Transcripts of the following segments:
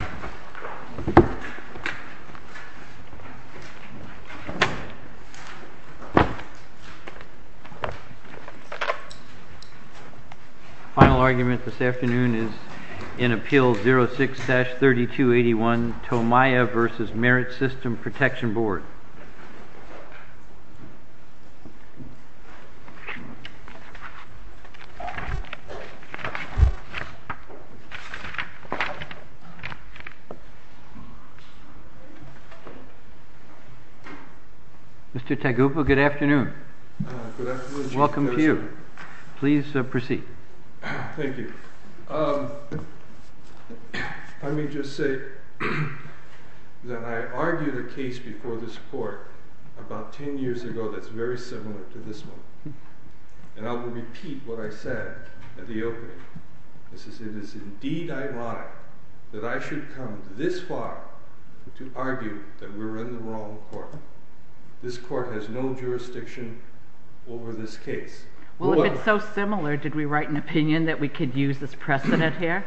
Final argument this afternoon is in Appeal 06-3281 Tomaya v. Merit System Protection Board. Mr. Tagupo, good afternoon. Welcome to you. Please proceed. Thank you. Let me just say that I argued a case before this court about 10 years ago that's very similar to this one. And I will repeat what I said at the opening. It is indeed ironic that I should come this far to argue that we're in the wrong court. This court has no jurisdiction over this case. Well, if it's so similar, did we write an opinion that we could use as precedent here?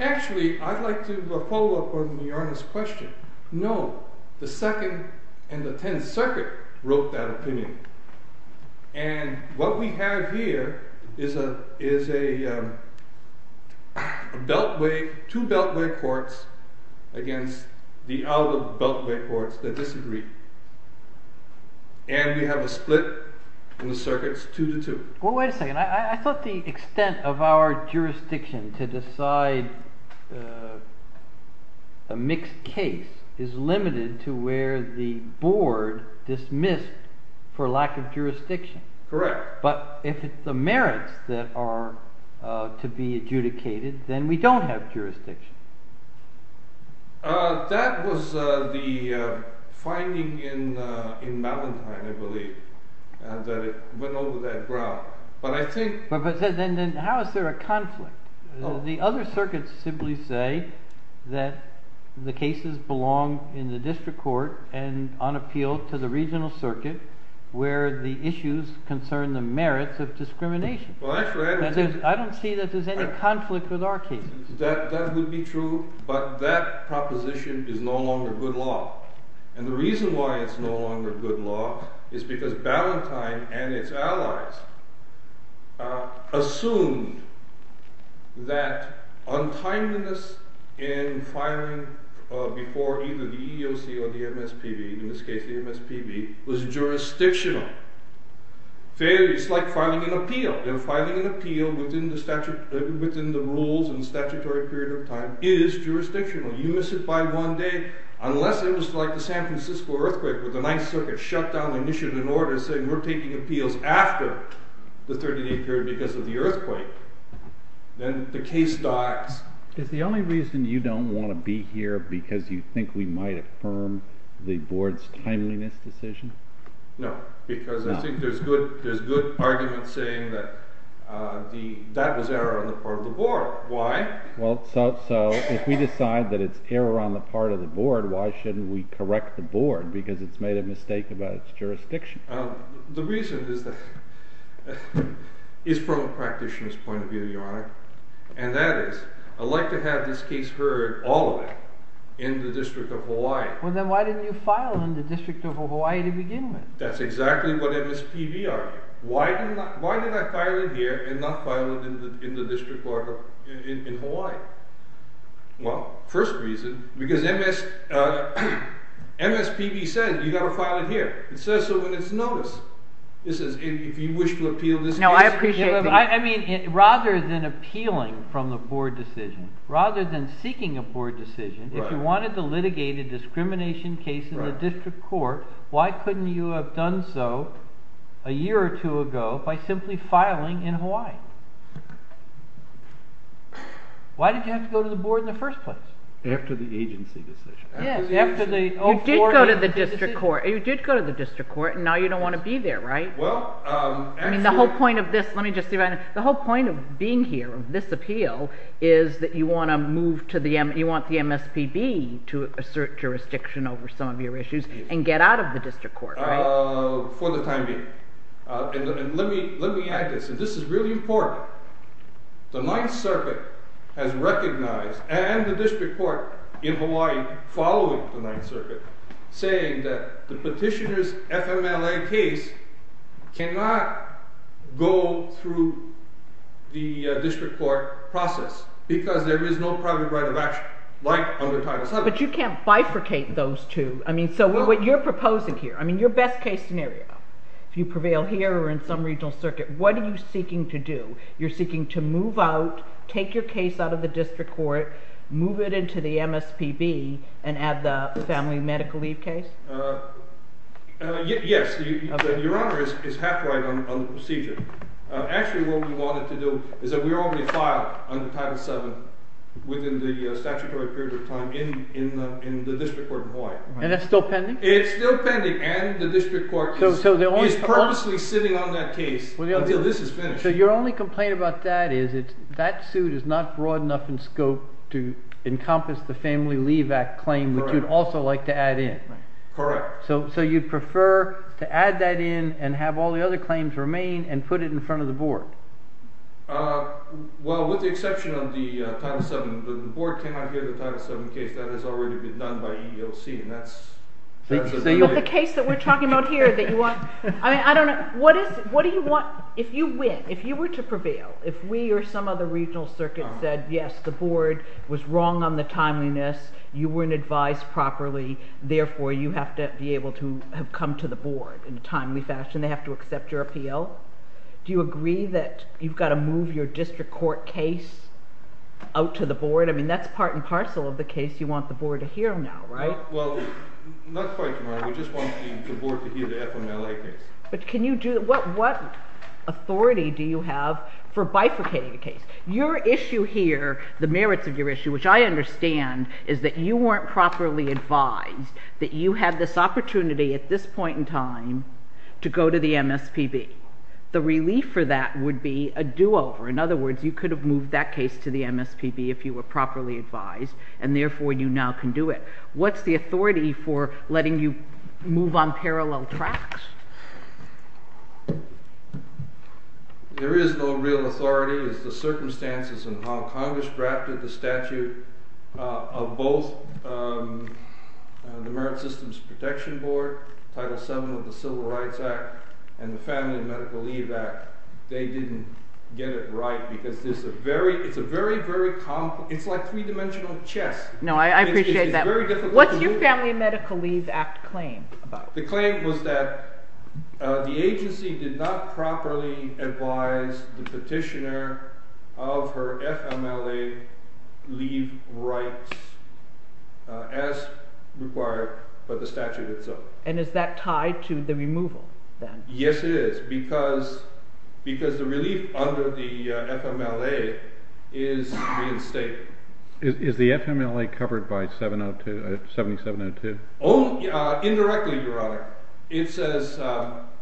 Actually, I'd like to follow up on the Honor's question. No. The Second and the Tenth Circuit wrote that opinion. And what we have here is a beltway, two beltway courts against the out-of-beltway courts that disagree. And we have a split in the circuits 2-2. Well, wait a second. I thought the extent of our jurisdiction to decide a mixed case is limited to where the board dismissed for lack of jurisdiction. Correct. If it's the merits that are to be adjudicated, then we don't have jurisdiction. That was the finding in Ballantyne, I believe, that it went over that ground. How is there a conflict? The other circuits simply say that the cases belong in the district court and on appeal to the merits of discrimination. I don't see that there's any conflict with our cases. That would be true, but that proposition is no longer good law. And the reason why it's no longer good law is because Ballantyne and its allies assumed that untimeliness in firing before either the EEOC or the MSPB, in this case the MSPB, was jurisdictional. It's like filing an appeal. Filing an appeal within the rules and statutory period of time is jurisdictional. You miss it by one day, unless it was like the San Francisco earthquake with the Ninth Circuit shut down and issued an order saying we're taking appeals after the 38th period because of the earthquake. Then the case dies. Is the only reason you don't want to be here because you think we might affirm the board's timeliness decision? No, because I think there's good argument saying that that was error on the part of the board. Why? Well, so if we decide that it's error on the part of the board, why shouldn't we correct the board because it's made a mistake about its jurisdiction? The reason is from a practitioner's point of view, Your Honor, and that is I'd like to have this case heard all of it in the District of Hawaii. Well then why didn't you file in the District of Hawaii to begin with? That's exactly what MSPB argued. Why did I file it here and not file it in the District of Hawaii? Well, first reason, because MSPB said you got to file it here. It says so in its notice. It says if you wish to appeal from the board decision, rather than seeking a board decision, if you wanted to litigate a discrimination case in the district court, why couldn't you have done so a year or two ago by simply filing in Hawaii? Why did you have to go to the board in the first place? After the agency decision. You did go to the district court and now you don't want to be there, right? The whole point of being here, of this appeal, is that you want the MSPB to assert jurisdiction over some of your issues and get out of the district court, right? For the time being. Let me add this. This is really important. The Ninth Circuit has recognized, and the district court, following the Ninth Circuit, saying that the petitioner's FMLA case cannot go through the district court process because there is no private right of action, like under Title VII. But you can't bifurcate those two. I mean, so what you're proposing here, I mean, your best case scenario, if you prevail here or in some regional circuit, what are you seeking to do? You're seeking to move out, take your case out of the district court, move it into the MSPB, and add the family medical leave case? Yes. Your Honor is half right on the procedure. Actually, what we wanted to do is that we already filed under Title VII within the statutory period of time in the district court in Hawaii. And it's still pending? It's still pending, and the district court is purposely sitting on that case until this is finished. So your only complaint about that is that suit is not broad enough in scope to encompass the Family Leave Act claim, which you'd also like to add in? Correct. So you'd prefer to add that in and have all the other claims remain and put it in front of the board? Well, with the exception of the Title VII, the board cannot hear the Title VII case. That has already been done by EEOC, and that's... But the case that we're talking about here that you want... If you win, if you were to prevail, if we or some other regional circuit said, yes, the board was wrong on the timeliness, you weren't advised properly, therefore you have to be able to have come to the board in a timely fashion, they have to accept your appeal. Do you agree that you've got to move your district court case out to the board? I mean, that's part and parcel of the case you want the board to hear now, right? Well, not quite, Your Honor. We just want the board to hear the FMLA case. But can you do... What authority do you have for bifurcating a case? Your issue here, the merits of your issue, which I understand is that you weren't properly advised, that you had this opportunity at this point in time to go to the MSPB. The relief for that would be a do-over. In other words, you could have moved that case to the MSPB if you were properly advised, and therefore you now can do it. What's the authority for letting you move on parallel tracks? There is no real authority. It's the circumstances in how Congress drafted the statute of both the Merit Systems Protection Board, Title VII of the Civil Rights Act, and the Family and Medical Leave Act. They didn't get it right because there's a very... It's a very, very... It's like a three-dimensional chess. No, I appreciate that. What's your Family and Medical Leave Act claim? The claim was that the agency did not properly advise the petitioner of her FMLA leave rights as required by the statute itself. And is that tied to the removal, then? Yes, it is, because the relief under the FMLA is reinstated. Is the FMLA covered by 702... 7702? Indirectly, Your Honor. It says that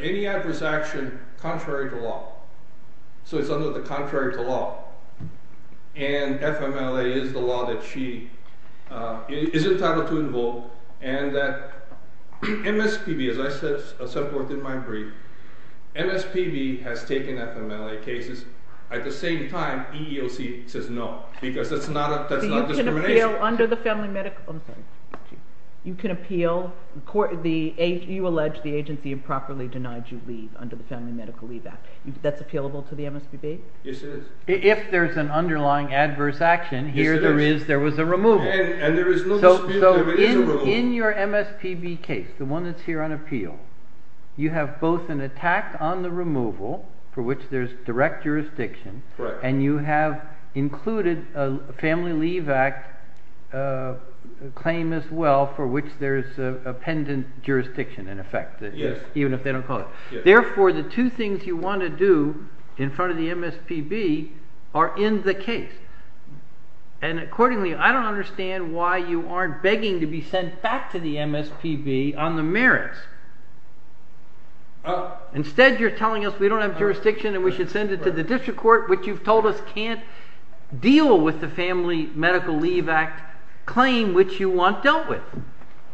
any adverse action contrary to law. So it's under the contrary to law. And FMLA is the law that she is entitled to invoke. And that MSPB, as I said somewhat in my brief, MSPB has taken FMLA cases at the same time EEOC says no, because that's not discrimination. So you can appeal under the Family and Medical... I'm sorry. You can appeal... You allege the agency improperly denied you leave under the Family and Medical Leave Act. That's appealable to the MSPB? Yes, it is. If there's an underlying adverse action, here there is, there was a removal. And there is no dispute there is a removal. So in your MSPB case, the one that's here on appeal, you have both an attack on the removal, for which there's direct jurisdiction, and you have included a Family Leave Act claim as well, for which there's a pendant jurisdiction, in effect, even if they don't call it. Therefore, the two things you want to do in front of the MSPB are in the case. And accordingly, I don't understand why you aren't begging to be sent back to the MSPB on the merits. Instead, you're telling us we don't have jurisdiction and we should send it to the district court, which you've told us can't deal with the Family Medical Leave Act claim, which you want dealt with.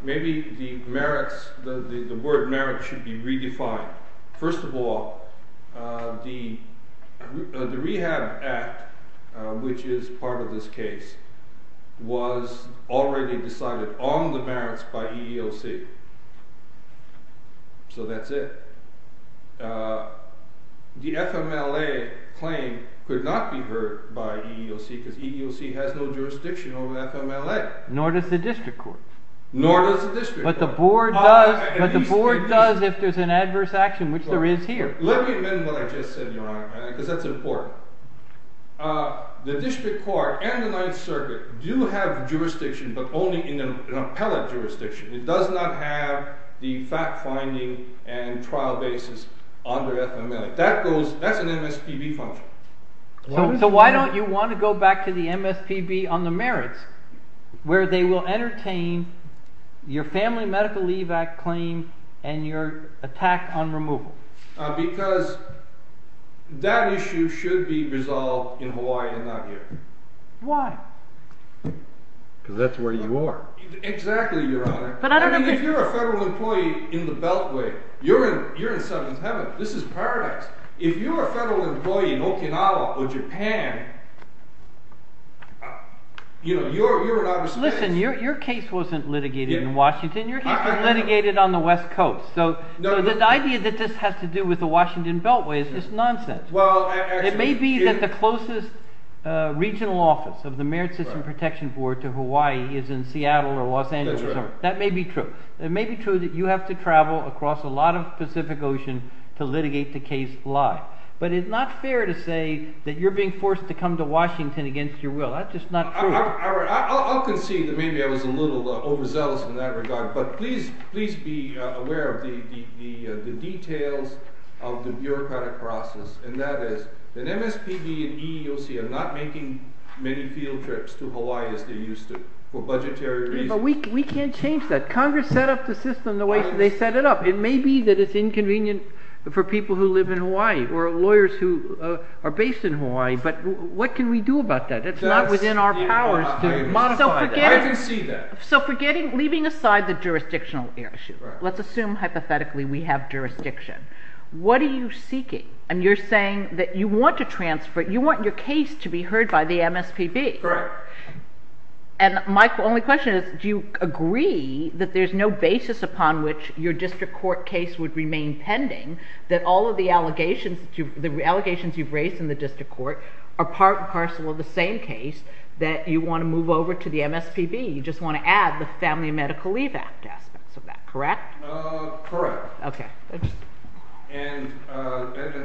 Maybe the merits, the word merits should be redefined. First of all, the Rehab Act, which is part of this case, was already decided on the merits by EEOC. So that's it. The FMLA claim could not be heard by EEOC because EEOC has no jurisdiction over FMLA. Nor does the district court. But the board does if there's an adverse action, which there is here. Let me amend what I just said, Your Honor, because that's important. The district court and the Ninth Circuit do have jurisdiction, but only in an appellate jurisdiction. It does not have the fact-finding and trial basis under FMLA. That's an MSPB function. So why don't you want to go back to the MSPB on the merits, where they will entertain your Family Medical Leave Act claim and your attack on removal? Because that issue should be resolved in Hawaii and not here. Why? Because that's where you are. Exactly, Your Honor. I mean, if you're a federal employee in the Beltway, you're in heaven. This is paradise. If you're a federal employee in Okinawa or Japan, you're in outer space. Your case wasn't litigated in Washington. Your case was litigated on the West Coast. So the idea that this has to do with the Washington Beltway is just nonsense. It may be that the closest regional office of the Merit System Protection Board to Hawaii is in Seattle or Los Angeles. That may be true. It may be true that you have to travel across a lot of the Pacific Ocean to litigate the case live. But it's not fair to say that you're being forced to come to Washington against your will. That's just not true. I'll concede that maybe I was a little overzealous in that regard. But please be aware of the details of the bureaucratic process. And that is that MSPB and EEOC are not making many field trips to Hawaii as they used to for budgetary reasons. We can't change that. Congress set up the system the way they set it up. It may be that it's inconvenient for people who live in Hawaii or lawyers who are based in Hawaii. But what can we do about that? It's not within our powers to modify that. I can see that. So leaving aside the jurisdictional issue, let's assume hypothetically we have jurisdiction. What are you seeking? And you're saying that you want your case to be heard by the MSPB. Correct. And my only question is, do you agree that there's no basis upon which your district court case would remain pending that all of the allegations you've raised in the district court are part and parcel of the same case that you want to move over to the MSPB? You just want to add the Family and Medical Leave Act aspects of that, correct? Correct. Okay.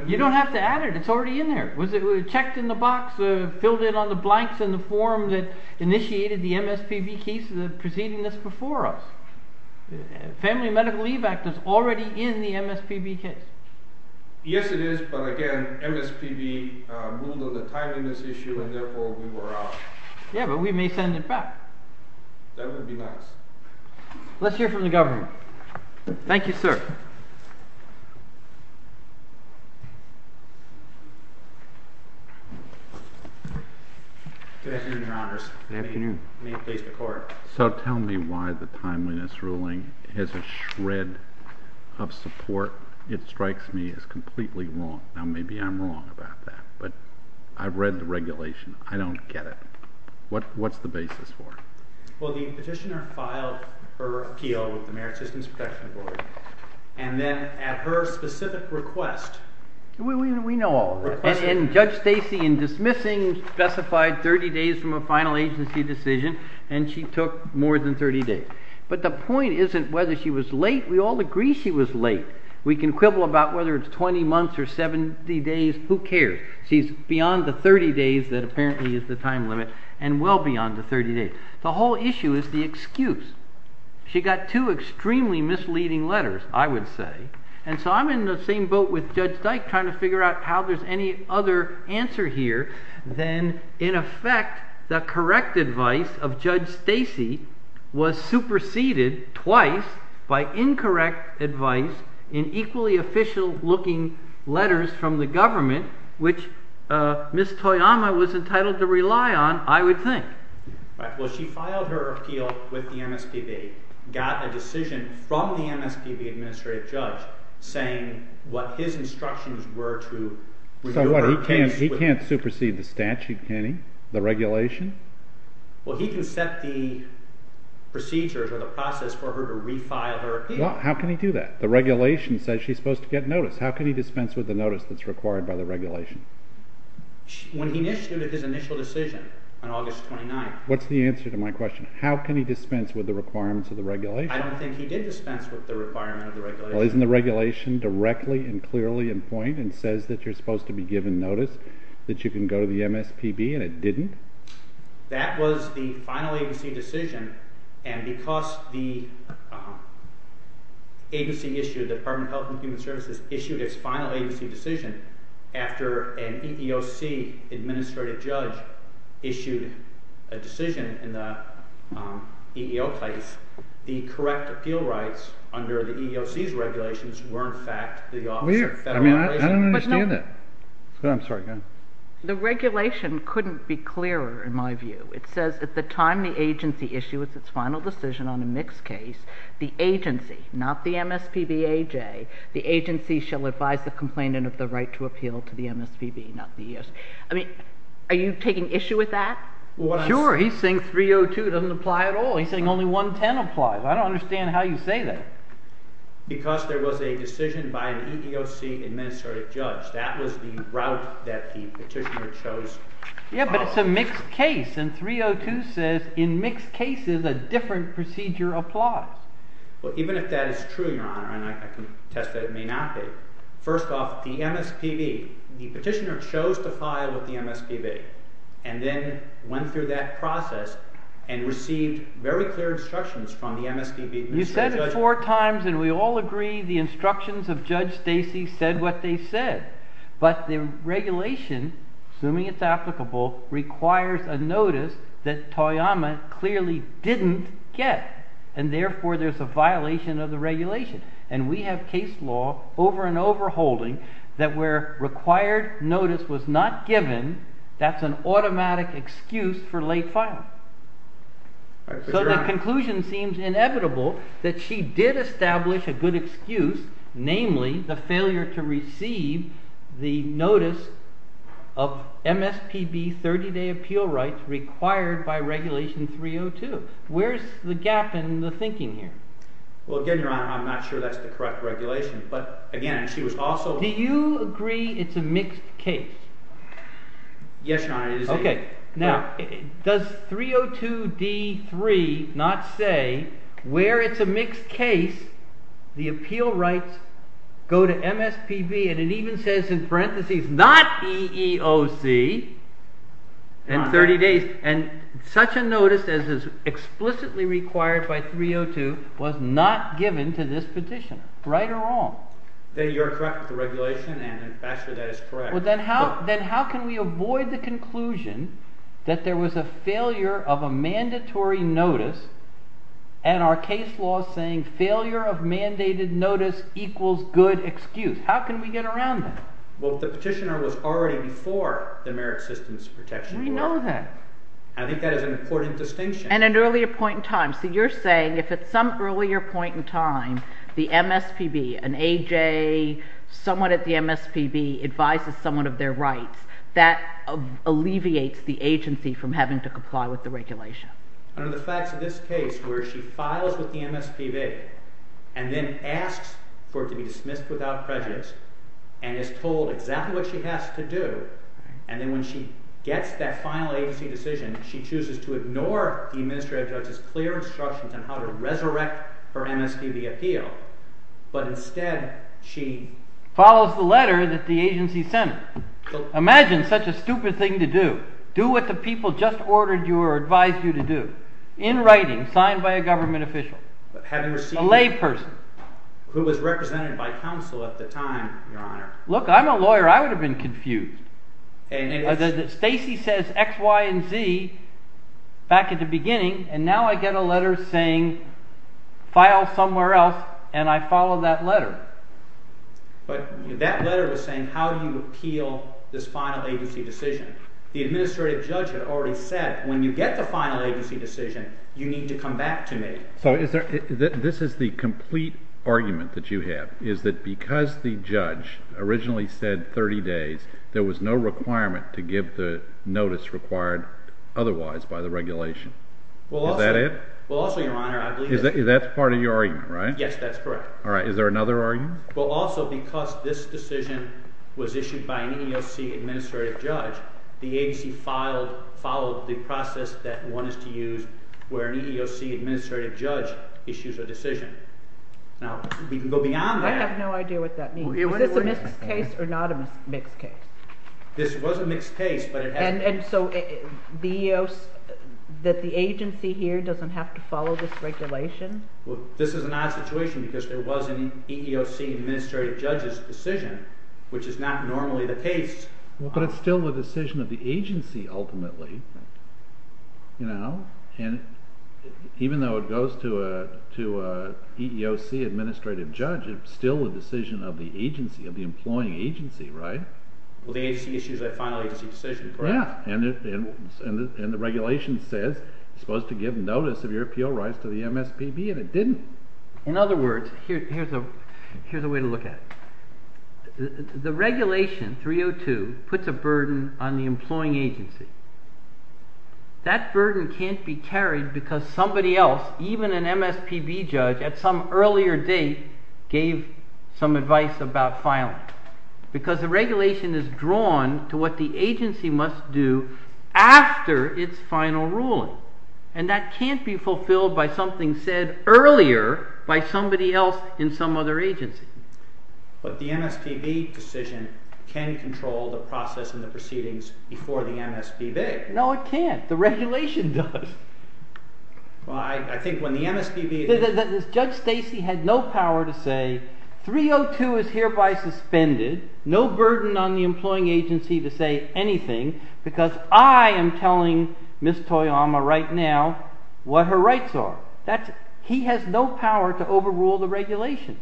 You don't have to add it. It's already in there. It was checked in the box, filled in on the blanks in the form that initiated the MSPB case preceding this before us. Family and Medical Leave Act is already in the MSPB case. Yes, it is. But again, MSPB ruled on the timing of this issue and therefore we were out. Yeah, but we may send it back. That would be nice. Let's hear from the government. Thank you, sir. Good afternoon, Your Honors. Good afternoon. May it please the Court. So tell me why the timeliness ruling is a shred of support. It strikes me as completely wrong. Now, maybe I'm wrong about that, but I've read the regulation. I don't get it. What's the basis for it? Well, the petitioner filed her appeal with the Merit Systems Protection Board, and then at her specific request… We know all that. And Judge Stacy, in dismissing, specified 30 days from a final agency decision, and she took more than 30 days. But the point isn't whether she was late. We all agree she was late. We can quibble about whether it's 20 months or 70 days. Who cares? She's beyond the 30 days that apparently is the time limit, and well beyond the 30 days. The whole issue is the excuse. She got two extremely misleading letters, I would say, and so I'm in the same boat with Judge Dyke trying to figure out how there's any other answer here than, in effect, the correct advice of Judge Stacy was superseded twice by incorrect advice in equally official-looking letters from the government, which Ms. Toyama was entitled to rely on, I would think. Well, she filed her appeal with the MSPB, got a decision from the MSPB administrative judge saying what his instructions were to… So what? He can't supersede the statute, can he? The regulation? Well, he can set the procedures or the process for her to refile her appeal. Well, how can he do that? The regulation says she's supposed to get notice. How can he dispense with the notice that's required by the regulation? When he initiated his initial decision on August 29… What's the answer to my question? How can he dispense with the requirements of the regulation? I don't think he did dispense with the requirements of the regulation. Well, isn't the regulation directly and clearly in point and says that you're supposed to be given notice that you can go to the MSPB and it didn't? That was the final agency decision, and because the agency issue, the Department of Health and Human Services, issued its final agency decision after an EEOC administrative judge issued a decision in the EEO case, the correct appeal rights under the EEOC's regulations were in fact the Office of Federal Relations. I don't understand that. I'm sorry, go ahead. The regulation couldn't be clearer in my view. It says at the time the agency issued its final decision on a mixed case, the agency, not the MSPBAJ, the agency shall advise the complainant of the right to appeal to the MSPB, not the EEOC. I mean, are you taking issue with that? Sure. He's saying 302 doesn't apply at all. He's saying only 110 applies. I don't understand how you say that. Because there was a decision by an EEOC administrative judge. That was the route that the petitioner chose. Yeah, but it's a mixed case, and 302 says in mixed cases a different procedure applies. Well, even if that is true, Your Honor, and I can attest that it may not be, first off, the MSPB, the petitioner chose to file with the MSPB and then went through that process and received very clear instructions from the MSPB administrative judge. You said it four times, and we all agree the instructions of Judge Stacey said what they said. But the regulation, assuming it's applicable, requires a notice that Toyama clearly didn't get, and therefore there's a violation of the regulation. And we have case law over and over holding that where required notice was not given, that's an automatic excuse for late filing. So the conclusion seems inevitable that she did establish a good excuse, namely the failure to receive the notice of MSPB 30-day appeal rights required by regulation 302. Where's the gap in the thinking here? Well, again, Your Honor, I'm not sure that's the correct regulation, but again, she was also… Do you agree it's a mixed case? Okay. Now, does 302D3 not say where it's a mixed case, the appeal rights go to MSPB, and it even says in parentheses, not EEOC, in 30 days. And such a notice as is explicitly required by 302 was not given to this petitioner. Right or wrong? You're correct with the regulation, and in fact that is correct. Well, then how can we avoid the conclusion that there was a failure of a mandatory notice and our case law saying failure of mandated notice equals good excuse? How can we get around that? Well, the petitioner was already before the Merit Systems Protection Board. I know that. I think that is an important distinction. So you're saying if at some earlier point in time the MSPB, an AJ, someone at the MSPB advises someone of their rights, that alleviates the agency from having to comply with the regulation. Under the facts of this case, where she files with the MSPB, and then asks for it to be dismissed without prejudice, and is told exactly what she has to do, and then when she gets that final agency decision, she chooses to ignore the administrative judge's clear instructions on how to resurrect her MSPB appeal, but instead she… In writing, signed by a government official. Having received… A lay person. Who was represented by counsel at the time, Your Honor. Look, I'm a lawyer. I would have been confused. Stacey says X, Y, and Z back at the beginning, and now I get a letter saying file somewhere else, and I follow that letter. But that letter was saying, how do you appeal this final agency decision? The administrative judge had already said, when you get the final agency decision, you need to come back to me. So this is the complete argument that you have, is that because the judge originally said 30 days, there was no requirement to give the notice required otherwise by the regulation. Is that it? Well, also, Your Honor, I believe… That's part of your argument, right? Yes, that's correct. All right. Is there another argument? Well, also, because this decision was issued by an EEOC administrative judge, the agency followed the process that one is to use where an EEOC administrative judge issues a decision. Now, we can go beyond that. I have no idea what that means. Is this a mixed case or not a mixed case? This was a mixed case, but it has… And so the agency here doesn't have to follow this regulation? Well, this is an odd situation because there was an EEOC administrative judge's decision, which is not normally the case. But it's still the decision of the agency ultimately. And even though it goes to an EEOC administrative judge, it's still the decision of the agency, of the employing agency, right? Well, the agency issues a final agency decision, correct? And the regulation says it's supposed to give notice of your appeal rights to the MSPB, and it didn't. In other words, here's a way to look at it. The regulation 302 puts a burden on the employing agency. That burden can't be carried because somebody else, even an MSPB judge, at some earlier date, gave some advice about filing. Because the regulation is drawn to what the agency must do after its final ruling. And that can't be fulfilled by something said earlier by somebody else in some other agency. But the MSPB decision can control the process and the proceedings before the MSPB. No, it can't. The regulation does. Well, I think when the MSPB… The judge Stacy had no power to say 302 is hereby suspended, no burden on the employing agency to say anything, because I am telling Ms. Toyama right now what her rights are. He has no power to overrule the regulation.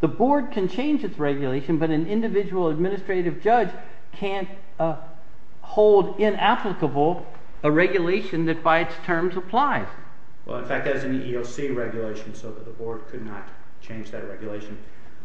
The board can change its regulation, but an individual administrative judge can't hold inapplicable a regulation that by its terms applies. Well, in fact, there's an EEOC regulation, so the board could not change that regulation.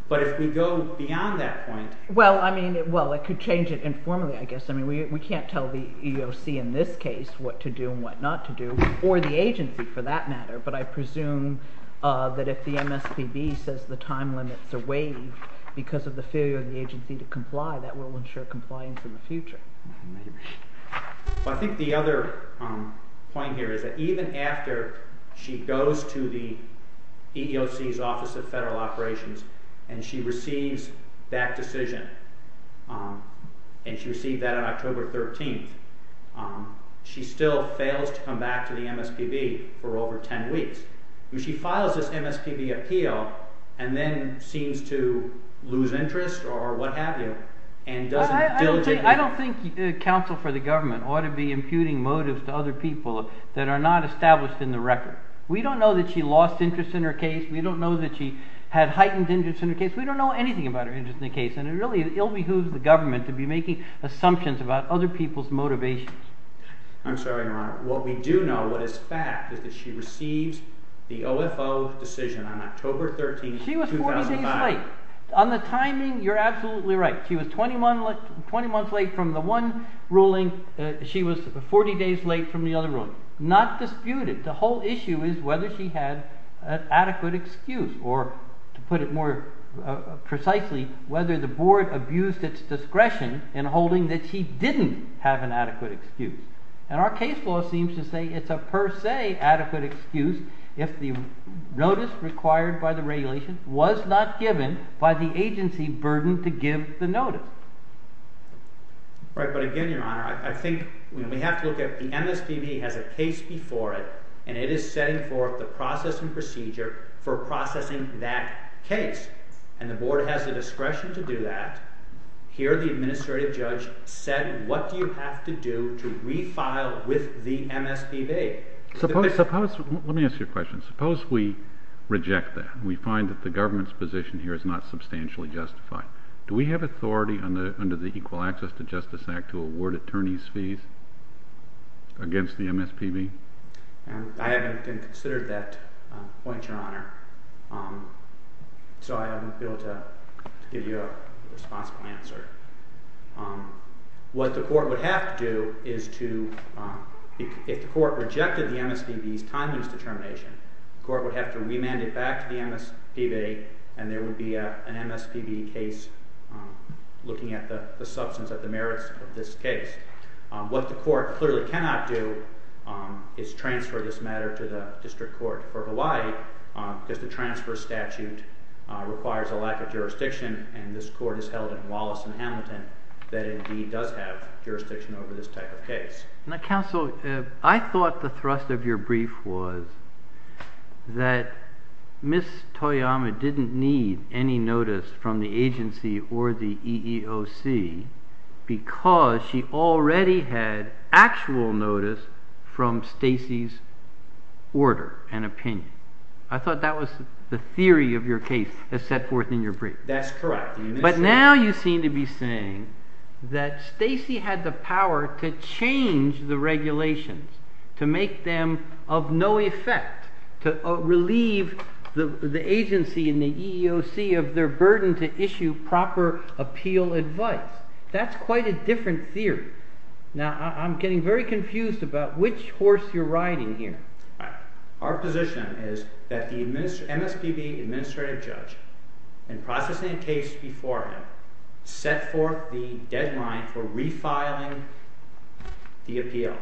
But if we go beyond that point… Well, I mean, well, it could change it informally, I guess. I mean, we can't tell the EEOC in this case what to do and what not to do, or the agency for that matter. But I presume that if the MSPB says the time limits are waived because of the failure of the agency to comply, that will ensure compliance in the future. I think the other point here is that even after she goes to the EEOC's Office of Federal Operations and she receives that decision, and she received that on October 13th, she still fails to come back to the MSPB for over 10 weeks. I mean, she files this MSPB appeal and then seems to lose interest or what have you and doesn't diligently… I don't think counsel for the government ought to be imputing motives to other people that are not established in the record. We don't know that she lost interest in her case. We don't know that she had heightened interest in her case. We don't know anything about her interest in the case, and it really ill behooves the government to be making assumptions about other people's motivations. I'm sorry, Your Honor. What we do know, what is fact, is that she receives the OFO decision on October 13th, 2005. She was 40 days late. On the timing, you're absolutely right. She was 20 months late from the one ruling. She was 40 days late from the other ruling. Not disputed. The whole issue is whether she had an adequate excuse or, to put it more precisely, whether the board abused its discretion in holding that she didn't have an adequate excuse. And our case law seems to say it's a per se adequate excuse if the notice required by the regulation was not given by the agency burdened to give the notice. Right, but again, Your Honor, I think we have to look at the MSPB has a case before it, and it is setting forth the process and procedure for processing that case. And the board has the discretion to do that. Here, the administrative judge said, what do you have to do to refile with the MSPB? Let me ask you a question. Suppose we reject that. We find that the government's position here is not substantially justified. Do we have authority under the Equal Access to Justice Act to award attorney's fees against the MSPB? I haven't been considered that point, Your Honor, so I haven't been able to give you a responsible answer. What the court would have to do is to, if the court rejected the MSPB's time-use determination, the court would have to remand it back to the MSPB, and there would be an MSPB case looking at the substance of the merits of this case. What the court clearly cannot do is transfer this matter to the district court for Hawaii because the transfer statute requires a lack of jurisdiction, and this court is held in Wallace and Hamilton that indeed does have jurisdiction over this type of case. Now, counsel, I thought the thrust of your brief was that Ms. Toyama didn't need any notice from the agency or the EEOC because she already had actual notice from Stacy's order and opinion. I thought that was the theory of your case as set forth in your brief. That's correct. But now you seem to be saying that Stacy had the power to change the regulations to make them of no effect, to relieve the agency and the EEOC of their burden to issue proper appeal advice. That's quite a different theory. Now, I'm getting very confused about which horse you're riding here. Our position is that the MSPB administrative judge, in processing a case before him, set forth the deadline for refiling the appeal.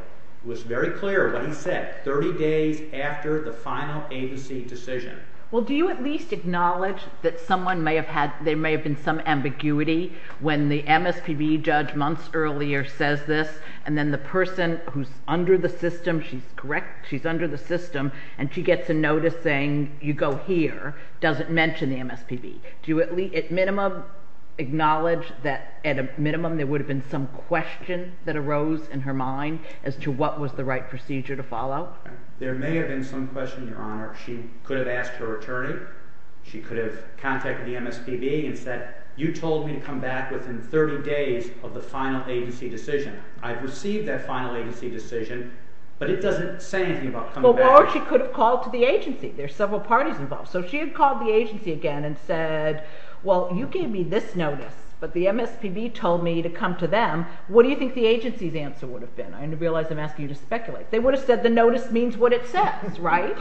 It was very clear what he said, 30 days after the final agency decision. Well, do you at least acknowledge that someone may have had – there may have been some ambiguity when the MSPB judge months earlier says this, and then the person who's under the system – she's correct, she's under the system – and she gets a notice saying, you go here, doesn't mention the MSPB. Do you at minimum acknowledge that at a minimum there would have been some question that arose in her mind as to what was the right procedure to follow? There may have been some question, Your Honor. She could have asked her attorney. She could have contacted the MSPB and said, you told me to come back within 30 days of the final agency decision. I've received that final agency decision, but it doesn't say anything about coming back. Or she could have called to the agency. There are several parties involved. So if she had called the agency again and said, well, you gave me this notice, but the MSPB told me to come to them, what do you think the agency's answer would have been? I realize I'm asking you to speculate. They would have said the notice means what it says, right?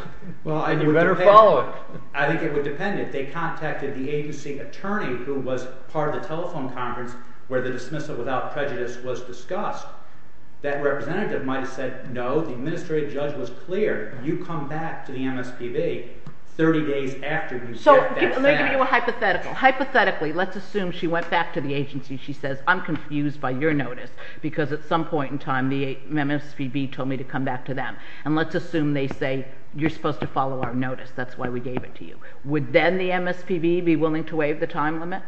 And you better follow it. I think it would depend if they contacted the agency attorney who was part of the telephone conference where the dismissal without prejudice was discussed. That representative might have said, no, the administrative judge was clear. You come back to the MSPB 30 days after you said that sentence. So let me give you a hypothetical. Hypothetically, let's assume she went back to the agency. She says, I'm confused by your notice because at some point in time the MSPB told me to come back to them. And let's assume they say, you're supposed to follow our notice. That's why we gave it to you. Would then the MSPB be willing to waive the time limit?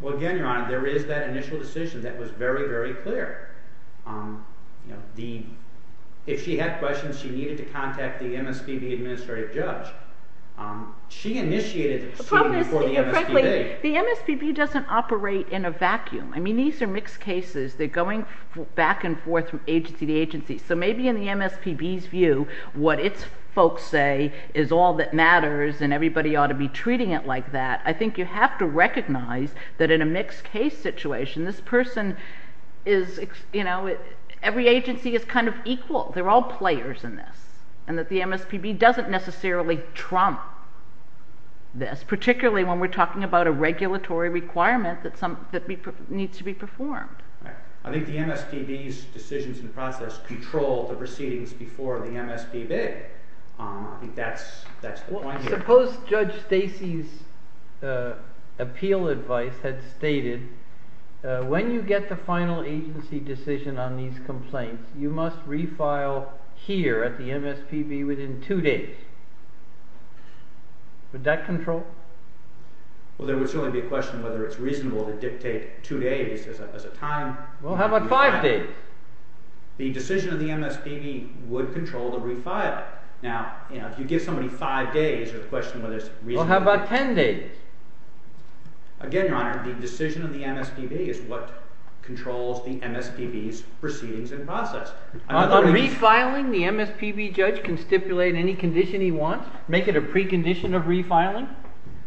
Well, again, Your Honor, there is that initial decision that was very, very clear. If she had questions, she needed to contact the MSPB administrative judge. She initiated the proceeding before the MSPB. The MSPB doesn't operate in a vacuum. I mean these are mixed cases. They're going back and forth from agency to agency. So maybe in the MSPB's view, what its folks say is all that matters and everybody ought to be treating it like that. I think you have to recognize that in a mixed case situation, this person is, you know, every agency is kind of equal. They're all players in this and that the MSPB doesn't necessarily trump this, particularly when we're talking about a regulatory requirement that needs to be performed. All right. I think the MSPB's decisions and process control the proceedings before the MSPB. I think that's the point here. Suppose Judge Stacy's appeal advice had stated when you get the final agency decision on these complaints, you must refile here at the MSPB within two days. Would that control? Well, there would certainly be a question whether it's reasonable to dictate two days as a time. Well, how about five days? The decision of the MSPB would control the refiling. Now, you know, if you give somebody five days, there's a question whether it's reasonable. Well, how about ten days? Again, Your Honor, the decision of the MSPB is what controls the MSPB's proceedings and process. On refiling, the MSPB judge can stipulate any condition he wants, make it a precondition of refiling?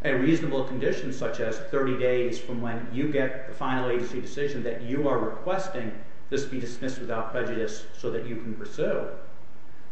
A reasonable condition such as 30 days from when you get the final agency decision that you are requesting this be dismissed without prejudice so that you can pursue.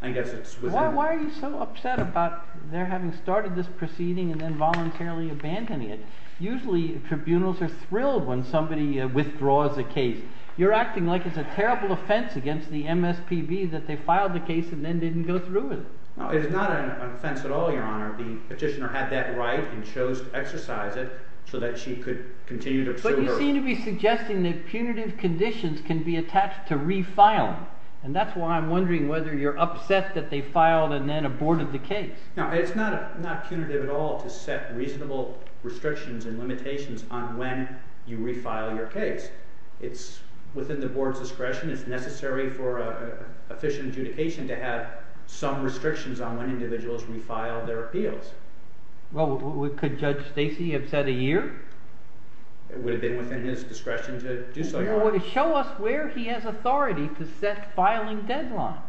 Why are you so upset about their having started this proceeding and then voluntarily abandoning it? Usually tribunals are thrilled when somebody withdraws a case. You're acting like it's a terrible offense against the MSPB that they filed the case and then didn't go through with it. It is not an offense at all, Your Honor. The petitioner had that right and chose to exercise it so that she could continue to pursue her case. But you seem to be suggesting that punitive conditions can be attached to refiling. And that's why I'm wondering whether you're upset that they filed and then aborted the case. No, it's not punitive at all to set reasonable restrictions and limitations on when you refile your case. It's within the board's discretion. It's necessary for an efficient adjudication to have some restrictions on when individuals refile their appeals. Well, could Judge Stacey upset a year? It would have been within his discretion to do so, Your Honor. Show us where he has authority to set filing deadlines.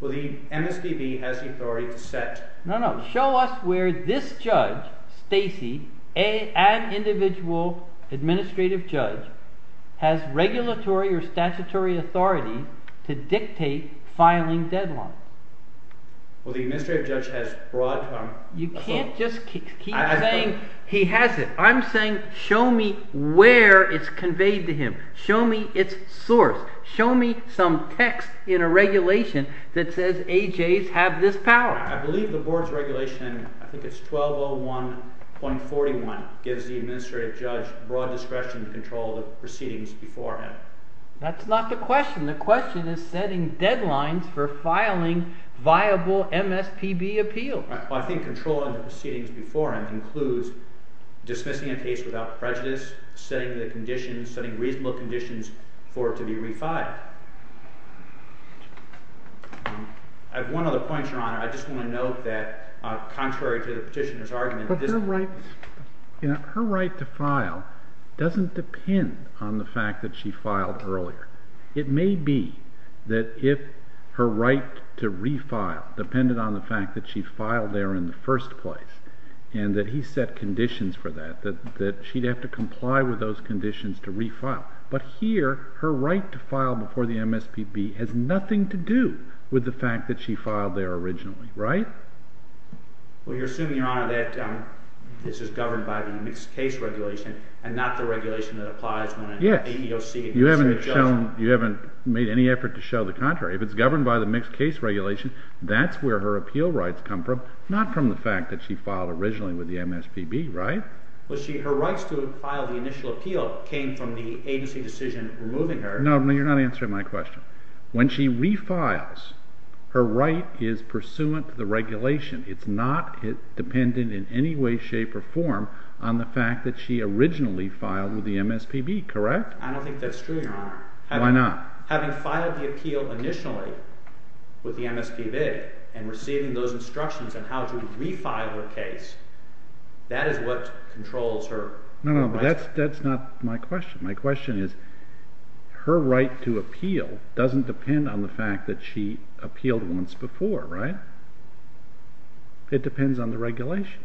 Well, the MSPB has the authority to set… No, no. Show us where this judge, Stacey, an individual administrative judge, has regulatory or statutory authority to dictate filing deadlines. Well, the administrative judge has broad… You can't just keep saying he has it. I'm saying show me where it's conveyed to him. Show me its source. Show me some text in a regulation that says AJs have this power. I believe the board's regulation, I think it's 1201.41, gives the administrative judge broad discretion to control the proceedings beforehand. That's not the question. The question is setting deadlines for filing viable MSPB appeals. Well, I think controlling the proceedings beforehand includes dismissing a case without prejudice, setting reasonable conditions for it to be refiled. I have one other point, Your Honor. I just want to note that contrary to the petitioner's argument… But her right to file doesn't depend on the fact that she filed earlier. It may be that if her right to refile depended on the fact that she filed there in the first place and that he set conditions for that, that she'd have to comply with those conditions to refile. But here, her right to file before the MSPB has nothing to do with the fact that she filed there originally, right? Well, you're assuming, Your Honor, that this is governed by the mixed case regulation and not the regulation that applies when an APOC… You haven't made any effort to show the contrary. If it's governed by the mixed case regulation, that's where her appeal rights come from, not from the fact that she filed originally with the MSPB, right? Well, her rights to file the initial appeal came from the agency decision removing her… No, you're not answering my question. When she refiles, her right is pursuant to the regulation. It's not dependent in any way, shape, or form on the fact that she originally filed with the MSPB, correct? I don't think that's true, Your Honor. Why not? Having filed the appeal initially with the MSPB and receiving those instructions on how to refile her case, that is what controls her… No, no, but that's not my question. My question is, her right to appeal doesn't depend on the fact that she appealed once before, right? It depends on the regulation,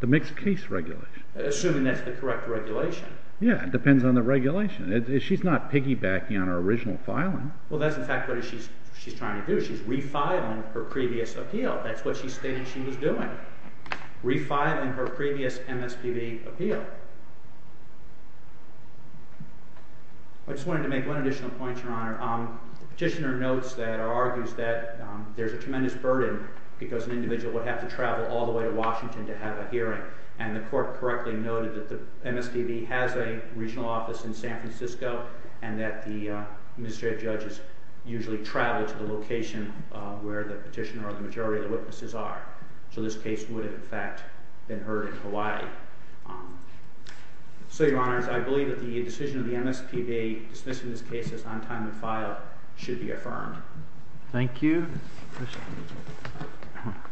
the mixed case regulation. Assuming that's the correct regulation. Yeah, it depends on the regulation. She's not piggybacking on her original filing. Well, that's in fact what she's trying to do. She's refiling her previous appeal. That's what she stated she was doing, refiling her previous MSPB appeal. I just wanted to make one additional point, Your Honor. The petitioner notes that or argues that there's a tremendous burden because an individual would have to travel all the way to Washington to have a hearing. And the court correctly noted that the MSPB has a regional office in San Francisco and that the administrative judges usually travel to the location where the petitioner or the majority of the witnesses are. So this case would, in fact, have been heard in Hawaii. So, Your Honor, I believe that the decision of the MSPB dismissing this case as on time to file should be affirmed. Thank you.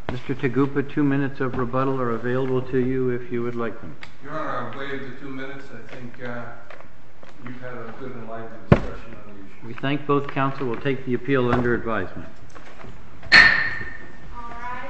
Mr. Taguppa, two minutes of rebuttal are available to you if you would like them. Your Honor, I'll wait the two minutes. I think you've had a good and lively discussion. We thank both counsel. We'll take the appeal under advisement. All rise. The court is adjourned for the day today.